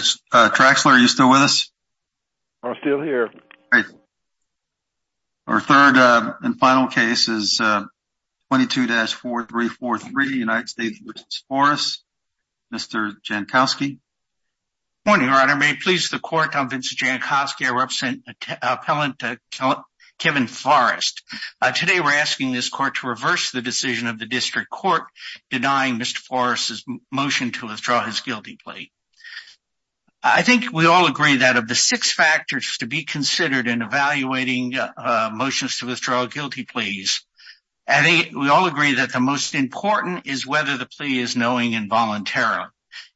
Traxler, are you still with us? I'm still here. Our third and final case is 22-4343, United States v. Forrest. Mr. Jankowski. Good morning, Your Honor. May it please the Court, I'm Vincent Jankowski. I represent Appellant Kevin Forrest. Today we're asking this Court to reverse the decision of the District Court denying Mr. Forrest's motion to withdraw his guilty plea. I think we all agree that of the six factors to be considered in evaluating motions to withdraw guilty pleas, we all agree that the most important is whether the plea is knowing and voluntary.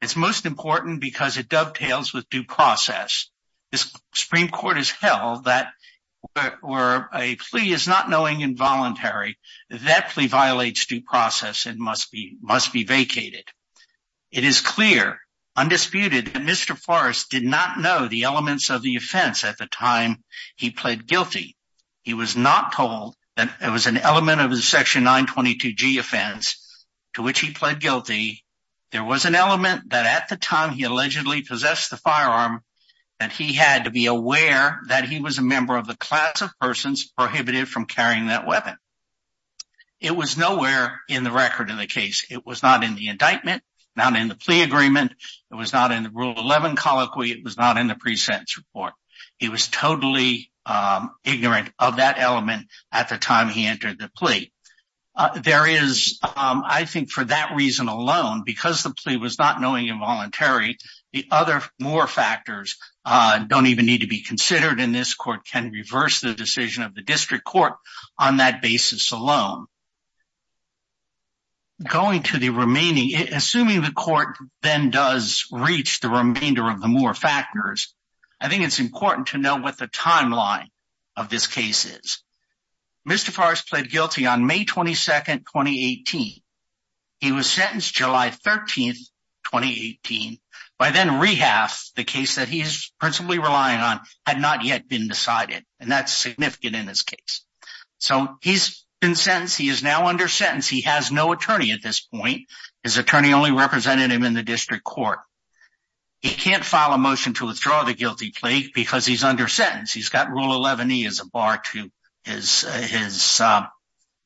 It's most important because it dovetails with due process. The Supreme Court has held that where a plea is not knowing and must be vacated. It is clear, undisputed, that Mr. Forrest did not know the elements of the offense at the time he pled guilty. He was not told that it was an element of the section 922G offense to which he pled guilty. There was an element that at the time he allegedly possessed the firearm that he had to be aware that he was a member of the class of persons prohibited from carrying that case. It was not in the indictment, not in the plea agreement, it was not in the rule 11 colloquy, it was not in the pre-sentence report. He was totally ignorant of that element at the time he entered the plea. There is, I think for that reason alone, because the plea was not knowing involuntary, the other more factors don't even need to be considered and this Court can reverse the decision of the District Court on that basis alone. Going to the remaining, assuming the Court then does reach the remainder of the more factors, I think it's important to know what the timeline of this case is. Mr. Forrest pled guilty on May 22, 2018. He was sentenced July 13, 2018. By then, Rehaff, the case that he's principally relying on, had not yet been decided and that's significant in this case. So he's been sentenced, he is now under sentence, he has no attorney at this point. His attorney only represented him in the District Court. He can't file a motion to withdraw the guilty plea because he's under sentence. He's got rule 11E as a bar to his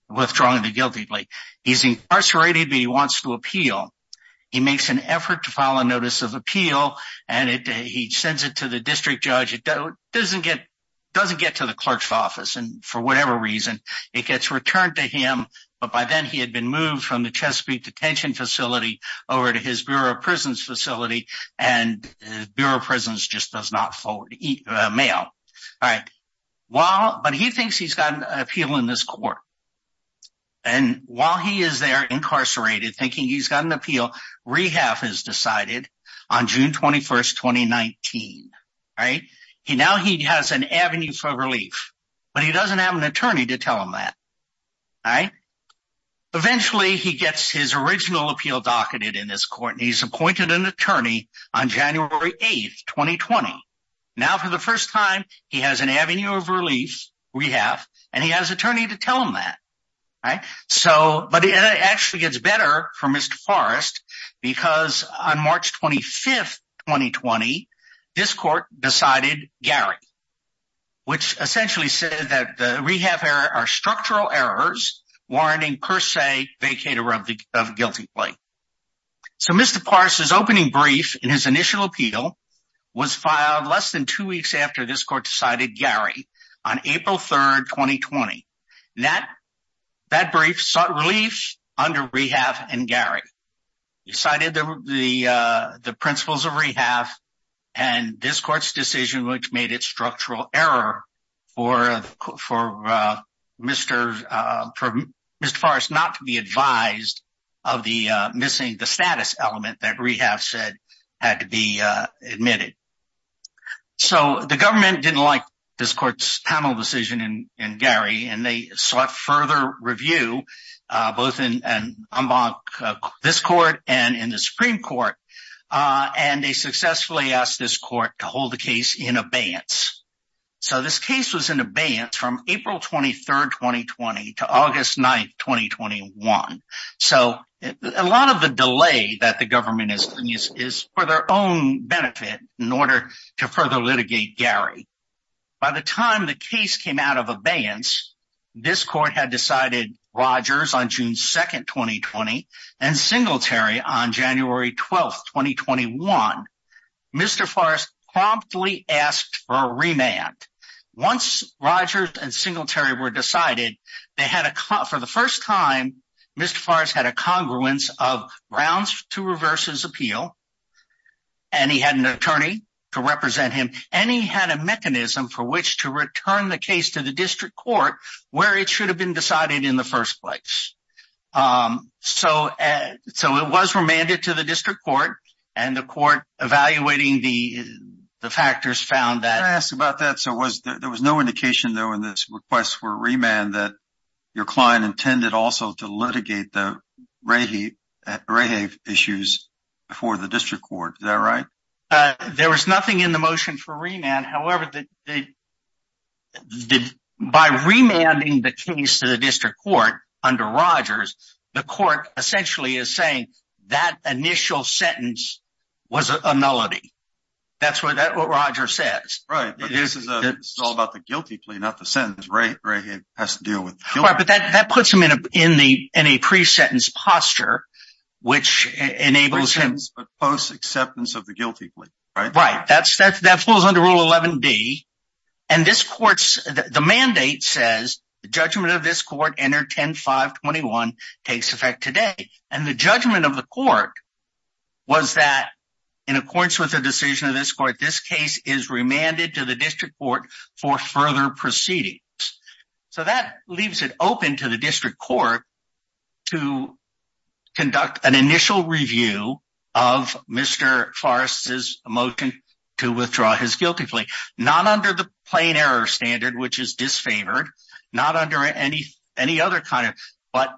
withdrawing the guilty plea. He's incarcerated but he wants to appeal. He makes an effort to file a notice of appeal and he sends it to the District Judge. It doesn't get to the clerk's office and for whatever reason it gets returned to him but by then he had been moved from the Chesapeake detention facility over to his Bureau of Prisons facility and Bureau of Prisons just does not forward mail. But he thinks he's got an appeal in this court and while he is there incarcerated thinking he's got an appeal, Rehaff has decided on June 21, 2019. Now he has an avenue for relief but he doesn't have an attorney to tell him that. Eventually he gets his original appeal docketed in this court and he's appointed an attorney on January 8, 2020. Now for the first time he has an avenue of relief, Rehaff, and he has an attorney to tell him that. But it actually gets better for Mr. Forrest because on March 25, 2020 this court decided Gary which essentially said that the Rehaff error are structural errors warranting per se vacated of guilty plea. So Mr. Forrest's opening brief in his initial appeal was filed less than two weeks after this court decided Gary on April 3, 2020. That brief sought relief under Rehaff and Gary. It cited the principles of Rehaff and this court's decision which made it structural error for Mr. Forrest not to be advised of the missing the status element that Rehaff said had to be admitted. So the government didn't like this court's panel decision in Gary and they sought further review both in this court and in the Supreme Court and they successfully asked this court to hold the case in abeyance. So this case was in abeyance from April 23, 2020 to August 9, 2021. So a lot of the delay that the government is for their own benefit in order to further litigate Gary. By the time the case came out of abeyance, this court had decided Rogers on June 2, 2020 and Singletary on January 12, 2021. Mr. Forrest promptly asked for a remand. Once Rogers and Singletary were decided, they had for the first time, Mr. Forrest had a congruence of grounds to reverse his appeal and he had an attorney to represent him and he had a mechanism for which to return the case to the district court where it should have been decided in the first place. So it was remanded to the district court and the court evaluating the factors found that... Can I ask about that? So there was no indication though in this request for a remand that your client intended also to litigate the Rehave issues before the district court. Is that right? There was nothing in the motion for remand. However, by remanding the case to the district court under Rogers, the court essentially is saying that initial sentence was a nullity. That's what Roger says. Right. But this is all about the guilty plea, not the sentence. Rehave has to deal with the guilty plea. Right. But that puts him in a pre-sentence posture, which enables him... Pre-sentence but post-acceptance of the guilty plea, right? Right. That falls under Rule 11D and this court's... The mandate says the judgment of this court under 10.521 takes effect today. And the judgment of the court was that in accordance with the decision of this court, this case is remanded to the district court for further proceedings. So that leaves it open to the district court to conduct an initial review of Mr. Forrest's motion to withdraw his guilty plea. Not under the plain error standard, which is disfavored. Not under any other kind of... But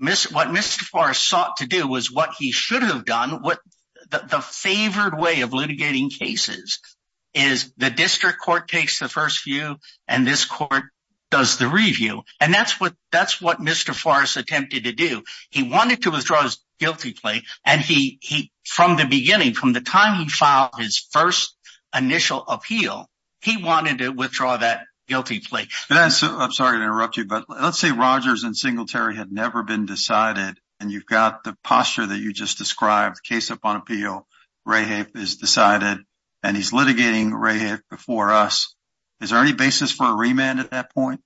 what Mr. Forrest sought to do was what he should have done. The favored way of litigating cases is the district court takes the first view and this court does the review. And that's what Mr. Forrest attempted to do. He wanted to withdraw his guilty plea. And from the beginning, from the time he filed his first initial appeal, he wanted to withdraw that guilty plea. I'm sorry to interrupt you, but let's say Rogers and Singletary had never been decided. And you've got the posture that you just described, case upon appeal. Rahab is decided and he's litigating Rahab before us. Is there any basis for a remand at that point?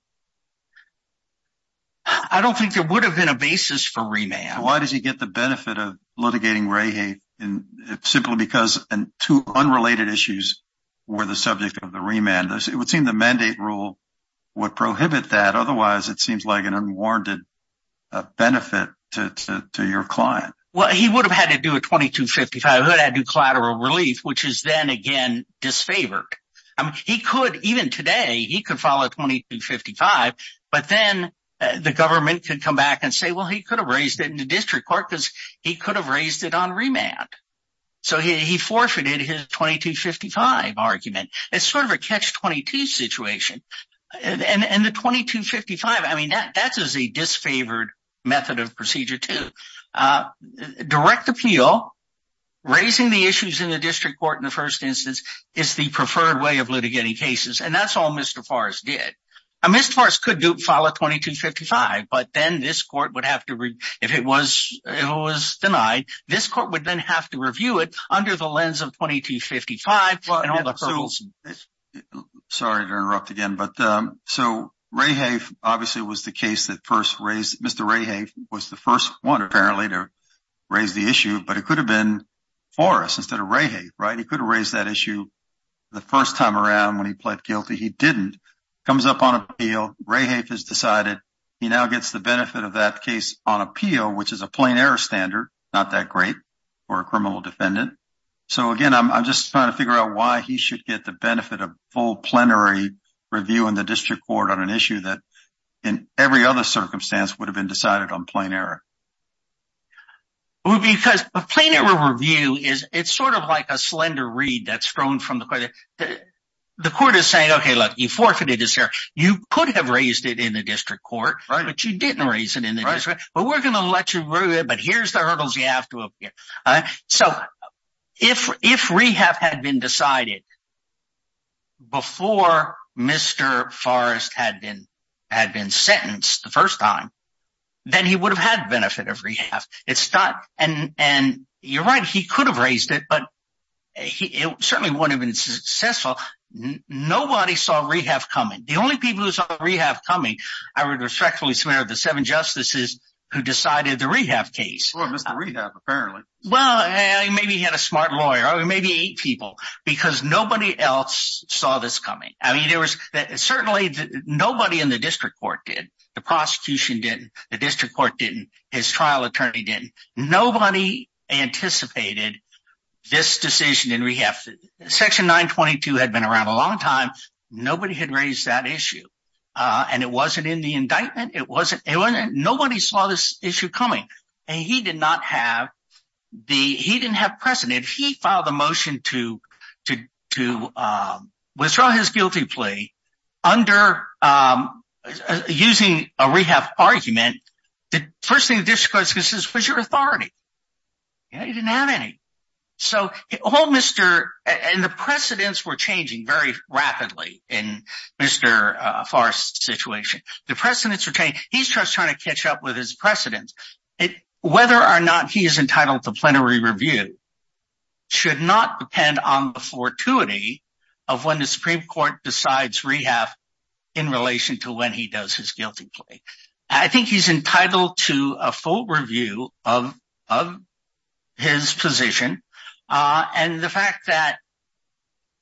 I don't think there would have been a basis for remand. Why does he get the benefit of litigating Rahab? Simply because two unrelated issues were the subject of the remand. It would seem the mandate rule would prohibit that. Otherwise, it seems like an unwarranted benefit to your client. Well, he would have had to do a 2255. He would have had to do collateral relief, which is then again, disfavored. He could, even today, he could file a 2255, but then the government could come back and say, well, he could have raised it in the district court because he could have raised it on remand. So he forfeited his 2255 argument. It's sort of a catch-22 situation. And the 2255, I mean, that's a disfavored method of procedure too. Direct appeal, raising the issues in the district court in the first instance, is the preferred way of litigating cases. And that's all Mr. Farris did. Mr. Farris could file a 2255, but then this court would have to, if it was denied, this court would then have to review it under the lens of 2255. Sorry to interrupt again, but so Rayhafe obviously was the case that first raised, Mr. Rayhafe was the first one apparently to raise the issue, but it could have been Farris instead of Rayhafe, right? He could have raised that issue the first time around when he pled guilty. He didn't. Comes up on appeal. Rayhafe has decided he now gets the benefit of that case on appeal, which is a plain error standard, not that great for a criminal defendant. So again, I'm just trying to figure out why he should get the benefit of full plenary review in the district court on an issue that in every other circumstance would have been decided on plain error. Because a plain error review is, it's sort of like a slender reed that's thrown from the court. The court is saying, okay, look, you forfeited this error. You could have raised it in the But we're going to let you review it, but here's the hurdles you have to appear. So if Rayhafe had been decided before Mr. Farris had been sentenced the first time, then he would have had benefit of Rayhafe. It's not, and you're right, he could have raised it, but it certainly wouldn't have been successful. Nobody saw Rayhafe coming. The only people who saw Rayhafe coming, I would respectfully swear the seven justices who decided the Rayhafe case. Or Mr. Rayhafe, apparently. Well, maybe he had a smart lawyer, or maybe eight people, because nobody else saw this coming. I mean, there was certainly nobody in the district court did. The prosecution didn't, the district court didn't, his trial attorney didn't. Nobody anticipated this decision in Rayhafe. Section 922 had been around a long time. Nobody had raised that issue. And it wasn't in the indictment. Nobody saw this issue coming. And he did not have the, he didn't have precedent. He filed a motion to withdraw his guilty plea under, using a Rehafe argument. The first thing the district court says was your authority. Yeah, he didn't have any. So all Mr., and the precedents were changing very rapidly in Mr. Forrest's situation. The precedents were changing. He starts trying to catch up with his precedents. Whether or not he is entitled to plenary review should not depend on the fortuity of when the Supreme Court decides Rayhafe in relation to when he does his guilty plea. I think he's entitled to a full review of his position. And the fact that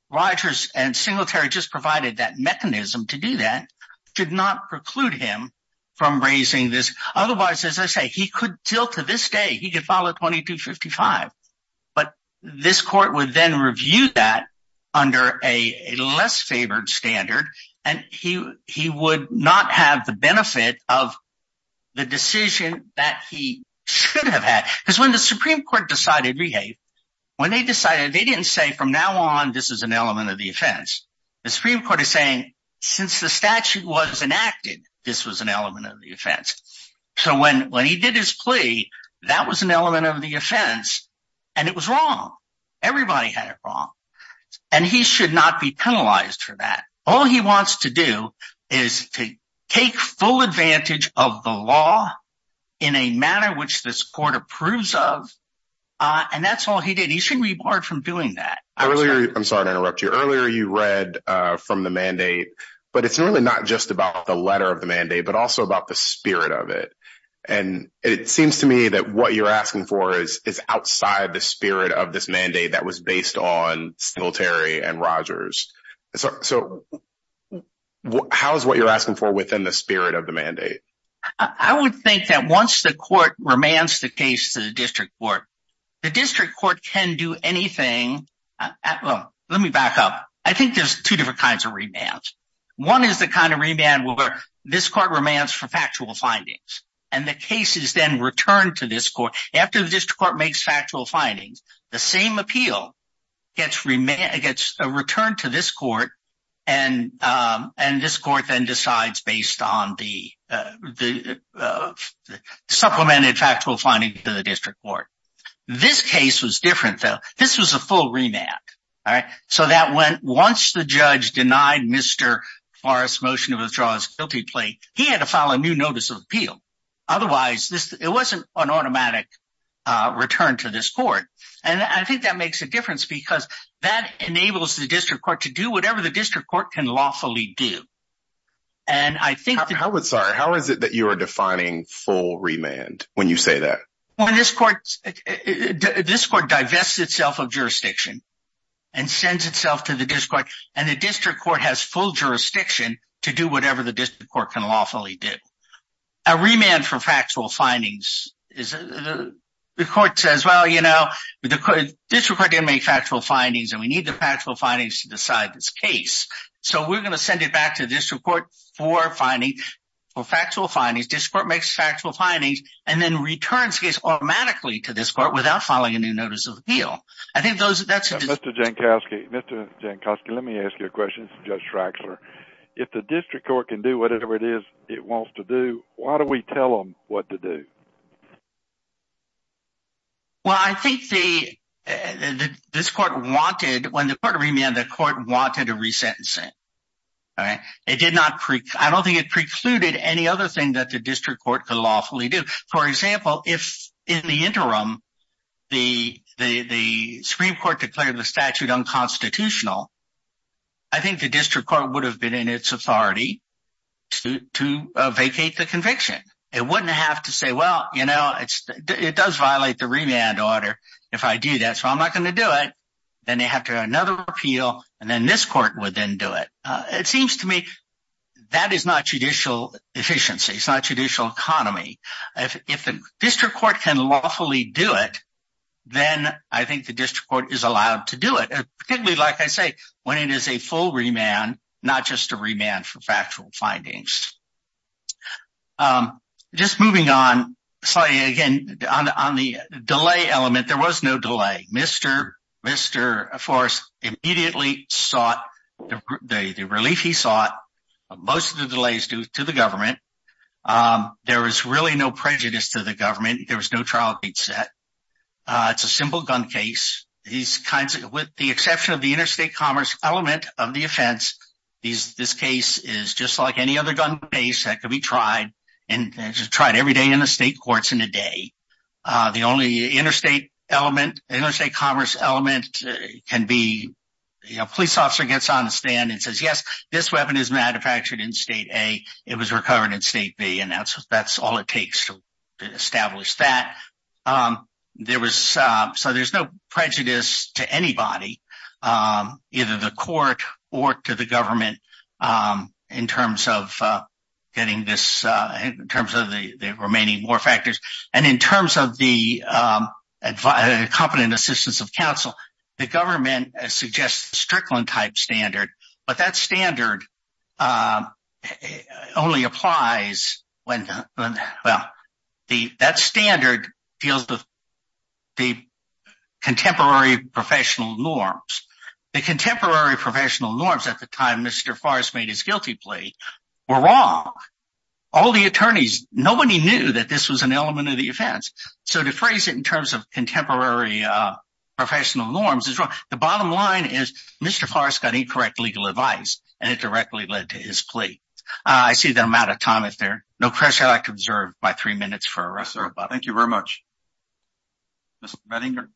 Rogers and Singletary just provided that mechanism to do that did not preclude him from raising this. Otherwise, as I say, he could, till to this day, he could file a 2255. But this court would then of the decision that he should have had, because when the Supreme Court decided Rehafe, when they decided, they didn't say from now on, this is an element of the offense. The Supreme Court is saying, since the statute was enacted, this was an element of the offense. So when when he did his plea, that was an element of the offense. And it was wrong. Everybody had wrong. And he should not be penalized for that. All he wants to do is to take full advantage of the law in a manner which this court approves of. And that's all he did. He shouldn't be barred from doing that. I'm sorry to interrupt you earlier. You read from the mandate, but it's really not just about the letter of the mandate, but also about the spirit of it. And it seems to me that what you're asking for is outside the spirit of this mandate that was based on Singletary and Rogers. So how is what you're asking for within the spirit of the mandate? I would think that once the court remands the case to the district court, the district court can do anything. Let me back up. I think there's two different kinds of remands. One is the kind of remand where this court remands for factual findings, and the case is then returned to this court. After the district court makes factual findings, the same appeal gets returned to this court, and this court then decides based on the supplemented factual findings to the district court. This case was different, though. This was a full remand, all right? So that went once the he had to file a new notice of appeal. Otherwise, it wasn't an automatic return to this court. And I think that makes a difference because that enables the district court to do whatever the district court can lawfully do. How is it that you are defining full remand when you say that? This court divests itself of jurisdiction and sends itself to the district court, and the district court has full jurisdiction to do whatever the district court can lawfully do. A remand for factual findings. The court says, well, you know, the district court didn't make factual findings, and we need the factual findings to decide this case. So we're going to send it back to the district court for factual findings. District court makes factual findings, and then returns the case automatically to this court without filing a new notice of appeal. I think that's Mr. Jankowski. Mr. Jankowski, let me ask you a question. This is Judge Traxler. If the district court can do whatever it is it wants to do, why do we tell them what to do? Well, I think this court wanted, when the court remanded, the court wanted a resentencing, all right? I don't think it precluded any other thing that the district court could lawfully do. For example, if in the interim the Supreme Court declared the statute unconstitutional, I think the district court would have been in its authority to vacate the conviction. It wouldn't have to say, well, you know, it does violate the remand order if I do that, so I'm not going to do it. Then they have to have another appeal, and then this court would then do it. It seems to me that is not judicial efficiency. It's not judicial economy. If the district court can lawfully do it, then I think the district court is allowed to do it, particularly, like I say, when it is a full remand, not just a remand for factual findings. Just moving on slightly, again, on the delay element, there was no delay. Mr. Forrest immediately sought the relief he sought. Most of the delay is due to the government. There was really no prejudice to the government. There was no trial date set. It's a simple gun case. With the exception of the interstate commerce element of the offense, this case is just like any other gun case that could be tried, and it's tried every day in the state courts in a day. The only interstate commerce element can be a police officer gets on the stand and says, yes, this weapon is manufactured in state A. It was recovered in state B, and that's all it takes to establish that. There's no prejudice to anybody, either the court or to the government, in terms of getting this, in terms of the remaining factors, and in terms of the competent assistance of counsel, the government suggests the Strickland type standard, but that standard only applies when, well, that standard deals with the contemporary professional norms. The contemporary professional norms at the time Mr. Forrest made his guilty plea were wrong. All the attorneys, nobody knew that this was an element of the offense. So to phrase it in terms of contemporary professional norms is wrong. The bottom line is Mr. Forrest got incorrect legal advice, and it directly led to his plea. I see that I'm out of time there. No pressure I could observe by three minutes. Thank you very much. Mr. Mettinger.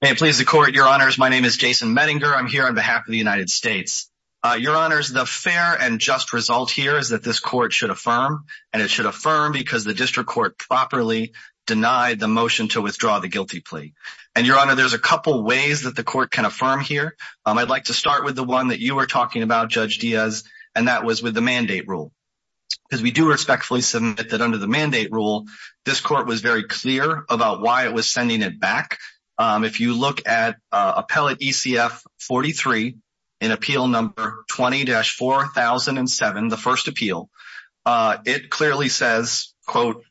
May it please the court, your honors, my name is Jason Mettinger. I'm here on behalf of the District Court. I'm here on behalf of the District Court. And the reason I'm here is that this court should affirm, and it should affirm because the District Court properly denied the motion to withdraw the guilty plea. And your honor, there's a couple ways that the court can affirm here. I'd like to start with the one that you were talking about, Judge Diaz, and that was with the mandate rule. Because we do respectfully submit that under the mandate rule, this court was very clear about why it was sending it back. If you look at appellate ECF 43, in appeal number 20-4007, the first appeal, it clearly says, quote,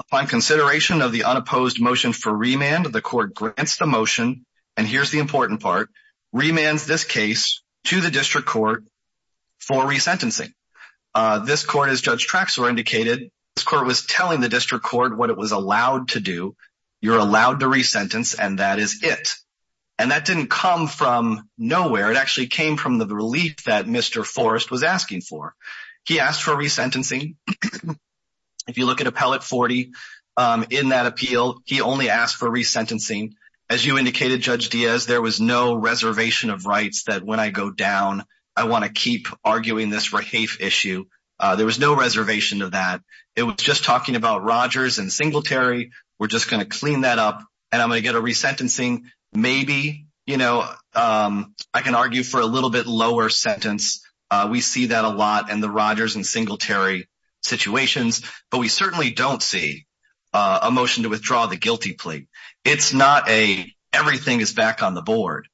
upon consideration of the unopposed motion for remand, the court grants the motion, and here's the important part, remands this case to the District Court for resentencing. This court, as Judge Traxler indicated, this court was telling the District Court what it was allowed to do. You're allowed to resentence, and that is it. And that didn't come from nowhere. It actually came from the relief that Mr. Forrest was asking for. He asked for resentencing. If you look at appellate 40, in that appeal, he only asked for resentencing. As you indicated, Judge Diaz, there was no reservation of rights that when I go down, I want to keep arguing this rehafe issue. There was no reservation of that. It was just talking about Rogers and Singletary. We're just going to clean that up, and I'm going to get a resentencing. Maybe, you know, I can argue for a little bit lower sentence. We see that a lot in the Rogers and Singletary situations, but we certainly don't see a motion to withdraw the guilty plea. It's not a everything is back on the board.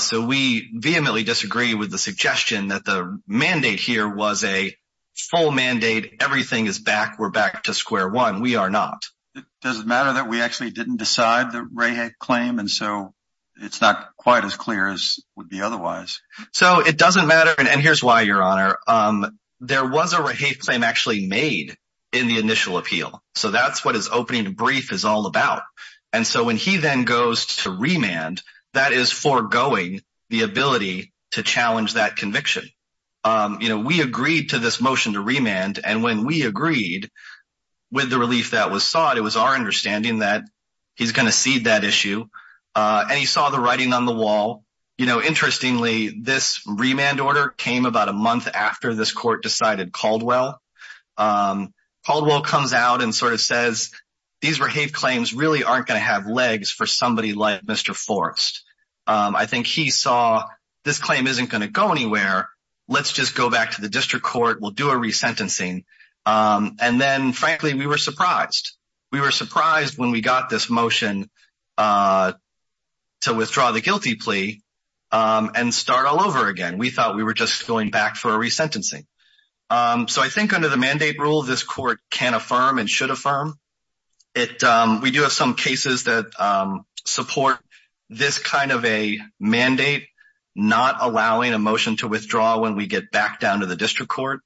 So we vehemently disagree with the suggestion that the we are not. Does it matter that we actually didn't decide the rehafe claim, and so it's not quite as clear as would be otherwise? So it doesn't matter, and here's why, Your Honor. There was a rehafe claim actually made in the initial appeal, so that's what his opening brief is all about. And so when he then goes to remand, that is foregoing the ability to challenge that conviction. You know, we agreed to this motion to remand, and when we agreed with the relief that was sought, it was our understanding that he's going to cede that issue, and he saw the writing on the wall. You know, interestingly, this remand order came about a month after this court decided Caldwell. Caldwell comes out and sort of says, these rehafe claims really aren't going to have legs for let's just go back to the district court. We'll do a resentencing. And then, frankly, we were surprised. We were surprised when we got this motion to withdraw the guilty plea and start all over again. We thought we were just going back for a resentencing. So I think under the mandate rule, this court can affirm and should affirm. It, we do have some cases that support this kind of a mandate, not allowing a motion to withdraw when we get back down to the district court.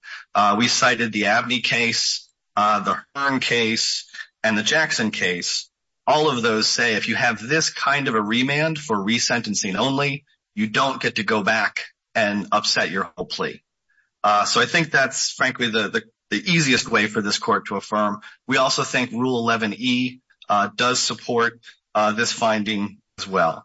We cited the Abney case, the Hearn case, and the Jackson case. All of those say if you have this kind of a remand for resentencing only, you don't get to go back and upset your whole plea. So I think that's, frankly, the easiest way for this court to affirm. We also think Rule 11E does support this finding as well.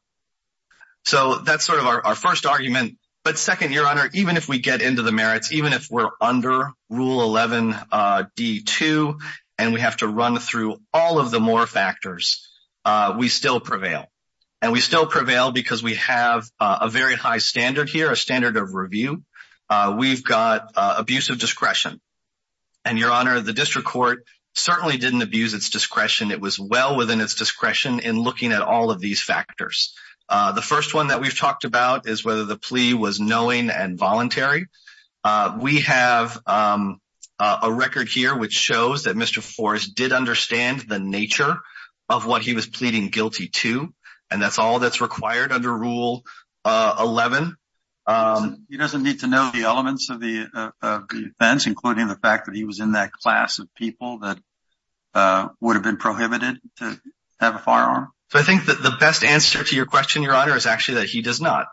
So that's sort of our first argument. But second, Your Honor, even if we get into the merits, even if we're under Rule 11D2 and we have to run through all of the more factors, we still prevail. And we still prevail because we have a very high standard here, a standard of discretion. And Your Honor, the district court certainly didn't abuse its discretion. It was well within its discretion in looking at all of these factors. The first one that we've talked about is whether the plea was knowing and voluntary. We have a record here which shows that Mr. Forrest did understand the nature of what he was pleading guilty to, and that's all that's required under Rule 11. He doesn't need to know the elements of the offense, including the fact that he was in that class of people that would have been prohibited to have a firearm? So I think that the best answer to your question, Your Honor, is actually that he does not.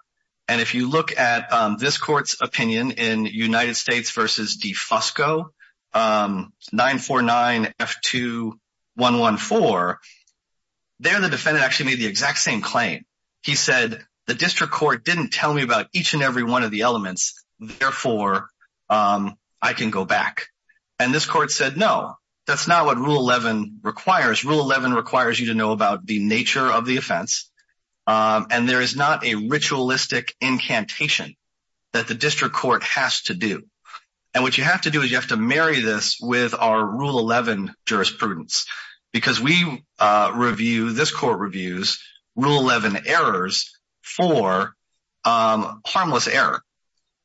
And if you look at this court's opinion in United States v. DeFusco, 949F2114, there the defendant actually made the exact same claim. He said, the district court didn't tell me about each and every one of the elements, therefore I can go back. And this court said, no, that's not what Rule 11 requires. Rule 11 requires you to know about the nature of the offense. And there is not a ritualistic incantation that the district court has to do. And what you have to do is you have to marry this with our Rule 11 jurisprudence, because we review, this court reviews, Rule 11 errors for harmless error.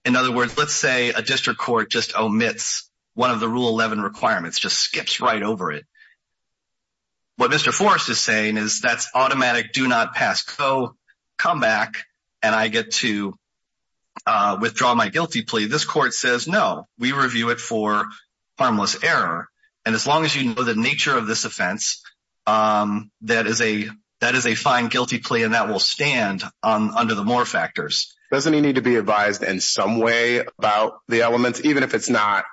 In other words, let's say a district court just omits one of the Rule 11 requirements, just skips right over it. What Mr. Forrest is saying is that's automatic, do not pass. Go, come back, and I get to withdraw my guilty plea. This court says, no, we review it for harmless error. And as long as you know the nature of this offense, that is a fine guilty plea, and that will stand under the more factors. Doesn't he need to be advised in some way about the elements, even if it's not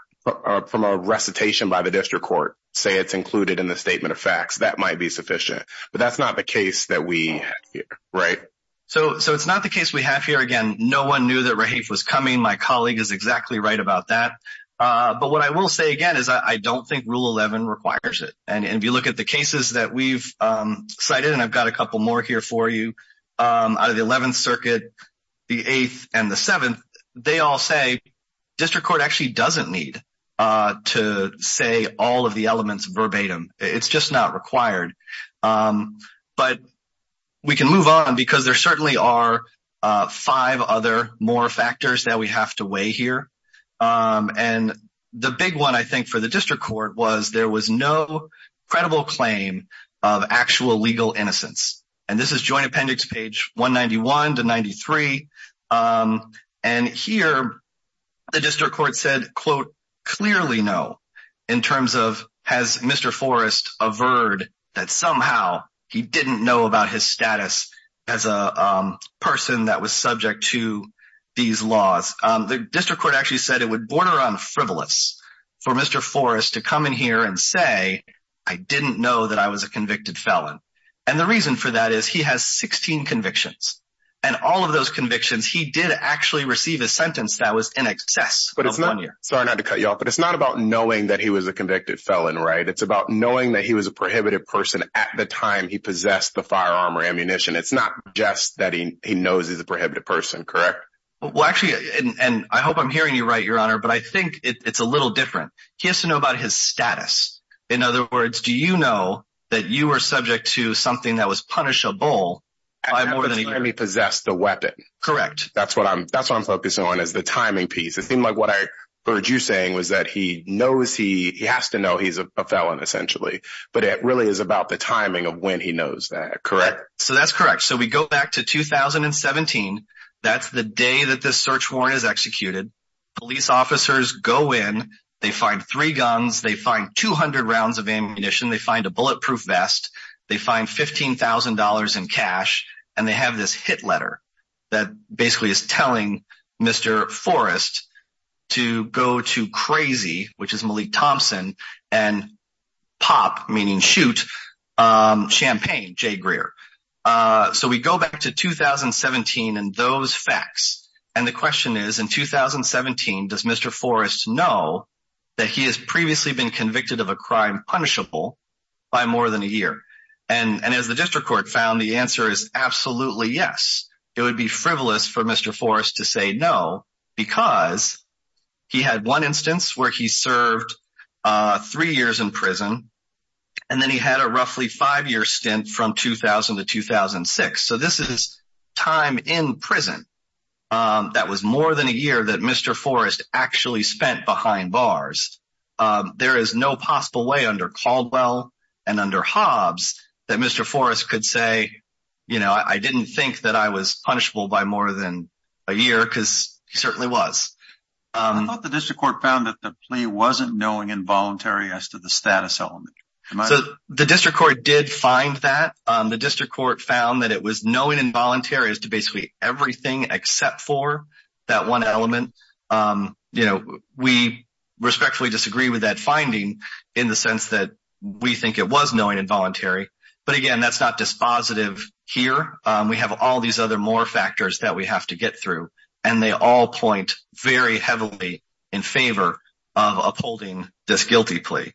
from a recitation by the district court, say it's included in the statement of facts, that might be sufficient. But that's not the case that we have here, right? So it's not the case we have here. Again, no one knew that Raheif was coming. My colleague is And if you look at the cases that we've cited, and I've got a couple more here for you, out of the 11th Circuit, the 8th, and the 7th, they all say district court actually doesn't need to say all of the elements verbatim. It's just not required. But we can move on, because there certainly are five other more factors that we have to weigh here. And the big one, I think, for the district court was there was no credible claim of actual legal innocence. And this is Joint Appendix page 191 to 93. And here, the district court said, quote, clearly no, in terms of has Mr. Forrest averred that somehow he didn't know about his status as a person that was subject to these laws. The district actually said it would border on frivolous for Mr. Forrest to come in here and say, I didn't know that I was a convicted felon. And the reason for that is he has 16 convictions. And all of those convictions, he did actually receive a sentence that was in excess. But it's not, sorry not to cut you off, but it's not about knowing that he was a convicted felon, right? It's about knowing that he was a prohibited person at the time he possessed the firearm or ammunition. It's not just that he knows he's a prohibited person, correct? Well, actually, and I hope I'm hearing you right, Your Honor, but I think it's a little different. He has to know about his status. In other words, do you know that you were subject to something that was punishable by more than a year? When he possessed the weapon. Correct. That's what I'm that's what I'm focusing on is the timing piece. It seemed like what I heard you saying was that he knows he has to know he's a felon essentially. But it really is about the timing of when he knows that, correct? So that's correct. So we go back to 2017. That's the day that this search warrant is executed. Police officers go in, they find three guns, they find 200 rounds of ammunition, they find a bulletproof vest, they find $15,000 in cash, and they have this hit letter that basically is telling Mr. Forrest to go to crazy, which is those facts. And the question is, in 2017, does Mr. Forrest know that he has previously been convicted of a crime punishable by more than a year? And as the district court found the answer is absolutely yes. It would be frivolous for Mr. Forrest to say no, because he had one instance where he served three years in prison. And then he had a roughly five year stint from 2000 to 2006. So this is time in prison. That was more than a year that Mr. Forrest actually spent behind bars. There is no possible way under Caldwell and under Hobbs that Mr. Forrest could say, you know, I didn't think that I was punishable by more than a year because he certainly was. I thought the district court found that the plea wasn't knowing involuntary as to the status element. So the district court did find that. The district court found that it was knowing involuntary as to basically everything except for that one element. You know, we respectfully disagree with that finding in the sense that we think it was knowing involuntary. But again, that's not dispositive here. We have all these other more factors that we have to get through, and they all point very heavily in favor of upholding this guilty plea.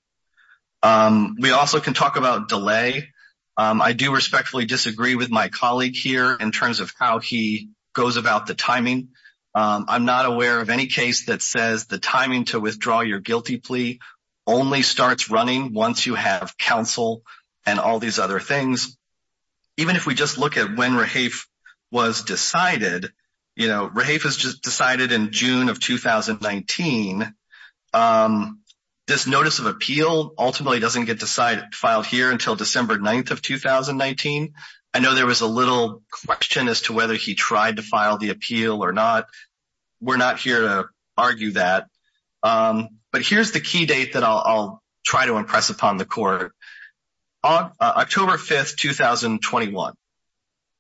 We also can talk about delay. I do respectfully disagree with my colleague here in terms of how he goes about the timing. I'm not aware of any case that says the timing to withdraw your guilty plea only starts running once you have counsel and all these other things. Even if we just look when Rahaf was decided, you know, Rahaf was decided in June of 2019. This notice of appeal ultimately doesn't get filed here until December 9th of 2019. I know there was a little question as to whether he tried to file the appeal or not. We're not here to argue that. But here's the key date that I'll try to impress upon the court. October 5th, 2021.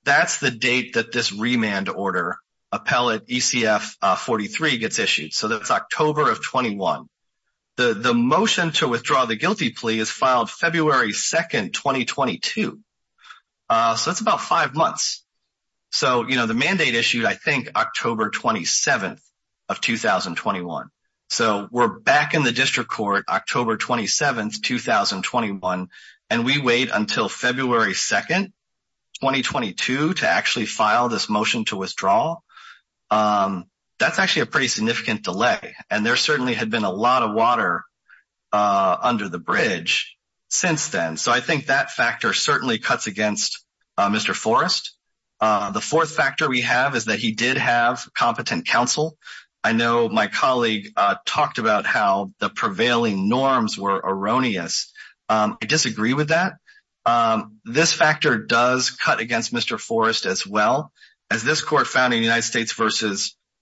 That's the date that this remand order, Appellate ECF 43, gets issued. So that's October of 21. The motion to withdraw the guilty plea is filed February 2nd, 2022. So that's about five months. So, you know, the mandate issued, I think, October 27th of 2021. So we're back in the district court October 27th, 2021, and we wait until February 2nd, 2022, to actually file this motion to withdraw. That's actually a pretty significant delay. And there certainly had been a lot of water under the bridge since then. So I think that factor certainly cuts against Mr. Forrest. The fourth factor we have is that he did have competent counsel. I know my colleague talked about how the prevailing norms were erroneous. I disagree with that. This factor does cut against Mr. Forrest as well. As this court found in United States v.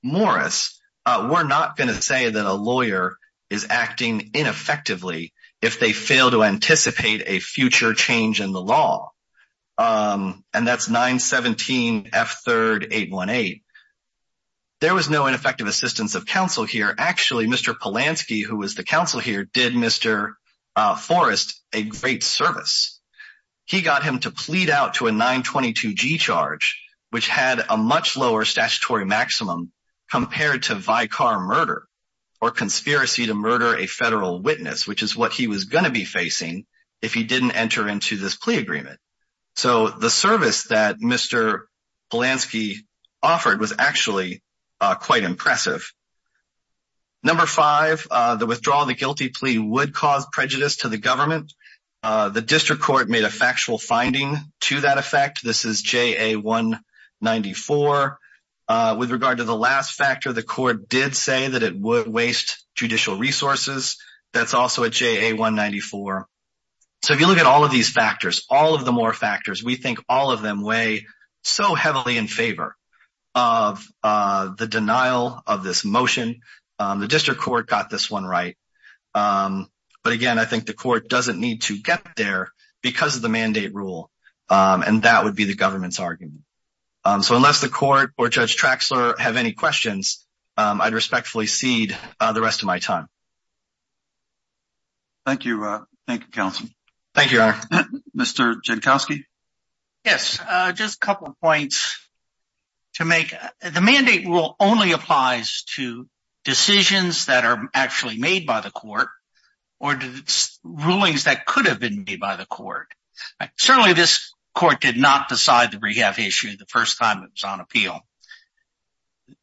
Morris, we're not going to say that a lawyer is acting ineffectively if they fail to anticipate a future change in the law. And that's 917 F3 818. There was no ineffective assistance of counsel here. Actually, Mr. Polanski, who was the counsel here, did Mr. Forrest a great service. He got him to plead out to a 922 G charge, which had a much lower statutory maximum compared to vicar murder or conspiracy to murder a federal witness, which is what he was going to be facing if he didn't enter into this plea agreement. So the service that Mr. Polanski offered was actually quite impressive. Number five, the withdrawal of the guilty plea would cause prejudice to the government. The district court made a factual finding to that effect. This is JA 194. With regard to the last factor, the court did say that it would waste judicial resources. That's also at JA 194. So if you look at all of these factors, all of the more factors, we think all of them weigh so heavily in favor of the denial of this motion. The district court got this one right. But again, I think the court doesn't need to get there because of the mandate rule. And that would be the government's argument. So unless the court or Judge Traxler have any questions, I'd respectfully cede the rest of my time. Thank you. Thank you, counsel. Thank you, Mr. Jankowski. Yes, just a couple of points to make. The mandate rule only applies to decisions that are actually made by the court or rulings that could have been made by the court. Certainly this court did not decide the rehab issue the first time it was on appeal.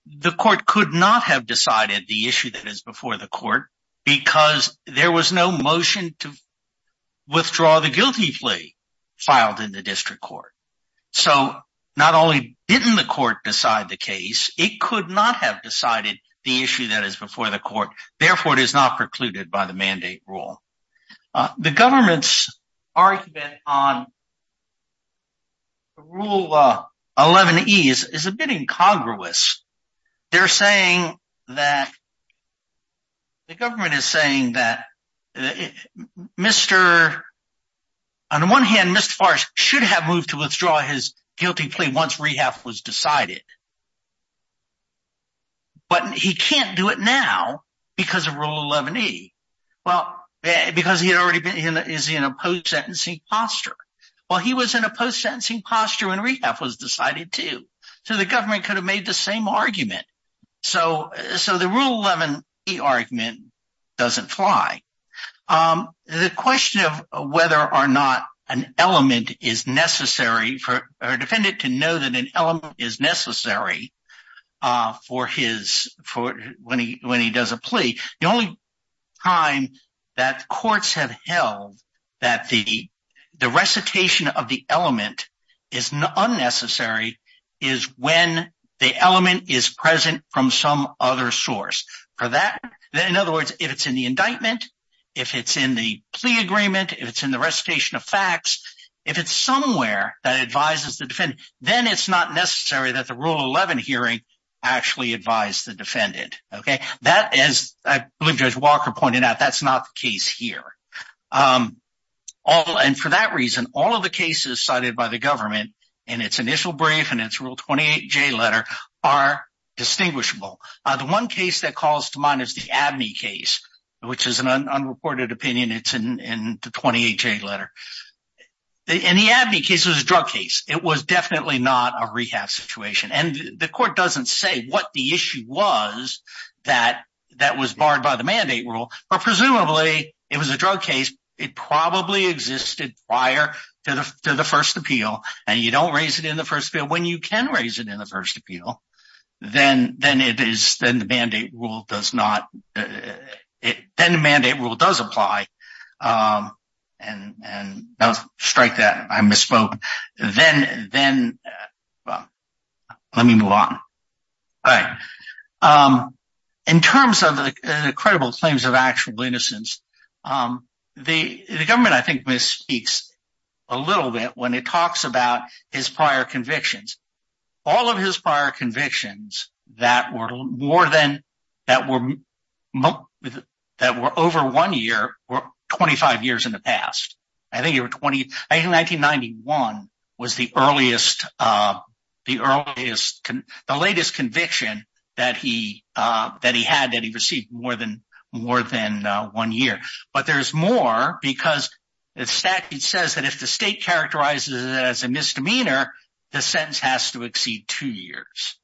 The court could not have decided the issue that is before the court because there was no motion to withdraw the guilty plea filed in the district court. So not only didn't the court decide the case, it could not have decided the issue that is before the court. Therefore, it is not precluded by the mandate rule. The government's argument on Rule 11E is a bit incongruous. They're saying that, the government is saying that on the one hand, Mr. Farris should have moved to withdraw his guilty plea once rehab was decided. But he can't do it now because of Rule 11E. Well, because he had already been in a post-sentencing posture. Well, he was in a post-sentencing posture when rehab was decided too. So the government could have made the same argument. So the Rule 11E argument doesn't fly. The question of whether or not an element is necessary for a defendant to know that an element is necessary for when he does a plea. The only time that courts have held that the recitation of the element is unnecessary is when the element is present from some other source. For that, in other words, if it's in the indictment, if it's in the plea agreement, if it's in the recitation of facts, if it's somewhere that advises the defendant, then it's not necessary that the Rule 11 hearing actually advise the defendant. That is, I believe Judge Walker pointed out, that's not the case here. And for that reason, all of the cases cited by the government in its initial brief and its Rule 28J letter are distinguishable. The one case that calls to mind is the Abney case, which is an unreported opinion. It's in the 28J letter. In the Abney case, it was a drug case. It was definitely not a rehab situation. And the court doesn't say what the issue was that was barred by the mandate rule, but presumably it was a drug case. It probably existed prior to the first appeal, and you don't raise it in the first appeal. When you can raise it in the first appeal, then the mandate rule does apply. And strike that, I misspoke. Let me move on. All right. In terms of the credible claims of actual innocence, the government, I think, speaks a little bit when it talks about his prior convictions. All of his prior convictions that were over one year were 25 years in the past. I think 1991 was the latest conviction that he had that he received more than one year. But there's more because the statute says that if the state characterizes it as a misdemeanor, the sentence has to exceed two years.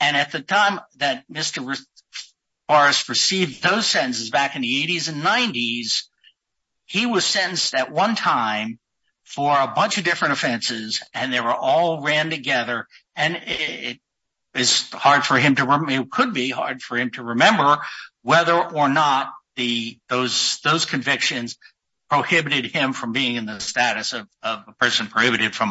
And at the time that Mr. Morris received those sentences back in the 80s and 90s, he was sentenced at one time for a bunch of different offenses, and they were all ran together. And it could be hard for him to remember whether or not those convictions prohibited him from being in the status of a person prohibited from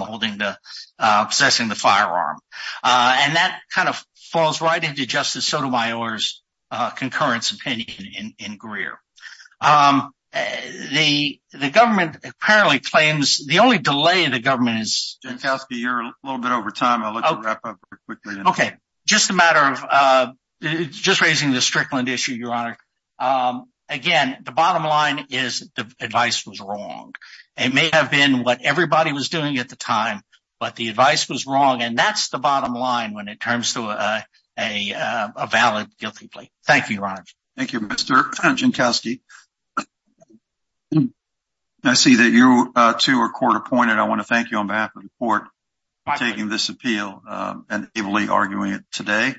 possessing the firearm. And that kind of falls right into Justice Sotomayor's the only delay the government is... Jankowski, you're a little bit over time. I'll let you wrap up quickly. Okay. Just a matter of just raising the Strickland issue, Your Honor. Again, the bottom line is the advice was wrong. It may have been what everybody was doing at the time, but the advice was wrong. And that's the bottom line when it turns to a valid guilty plea. Thank you, Your Honor. Thank you, Mr. Jankowski. I see that you two are court appointed. I want to thank you on behalf of the court for taking this appeal and ably arguing it today.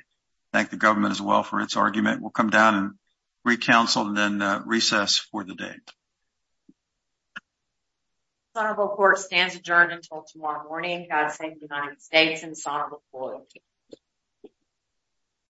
Thank the government as well for its argument. We'll come down and re-counsel and then recess for the day. The Honorable Court stands adjourned until tomorrow morning. God save the United States and the Honorable Court.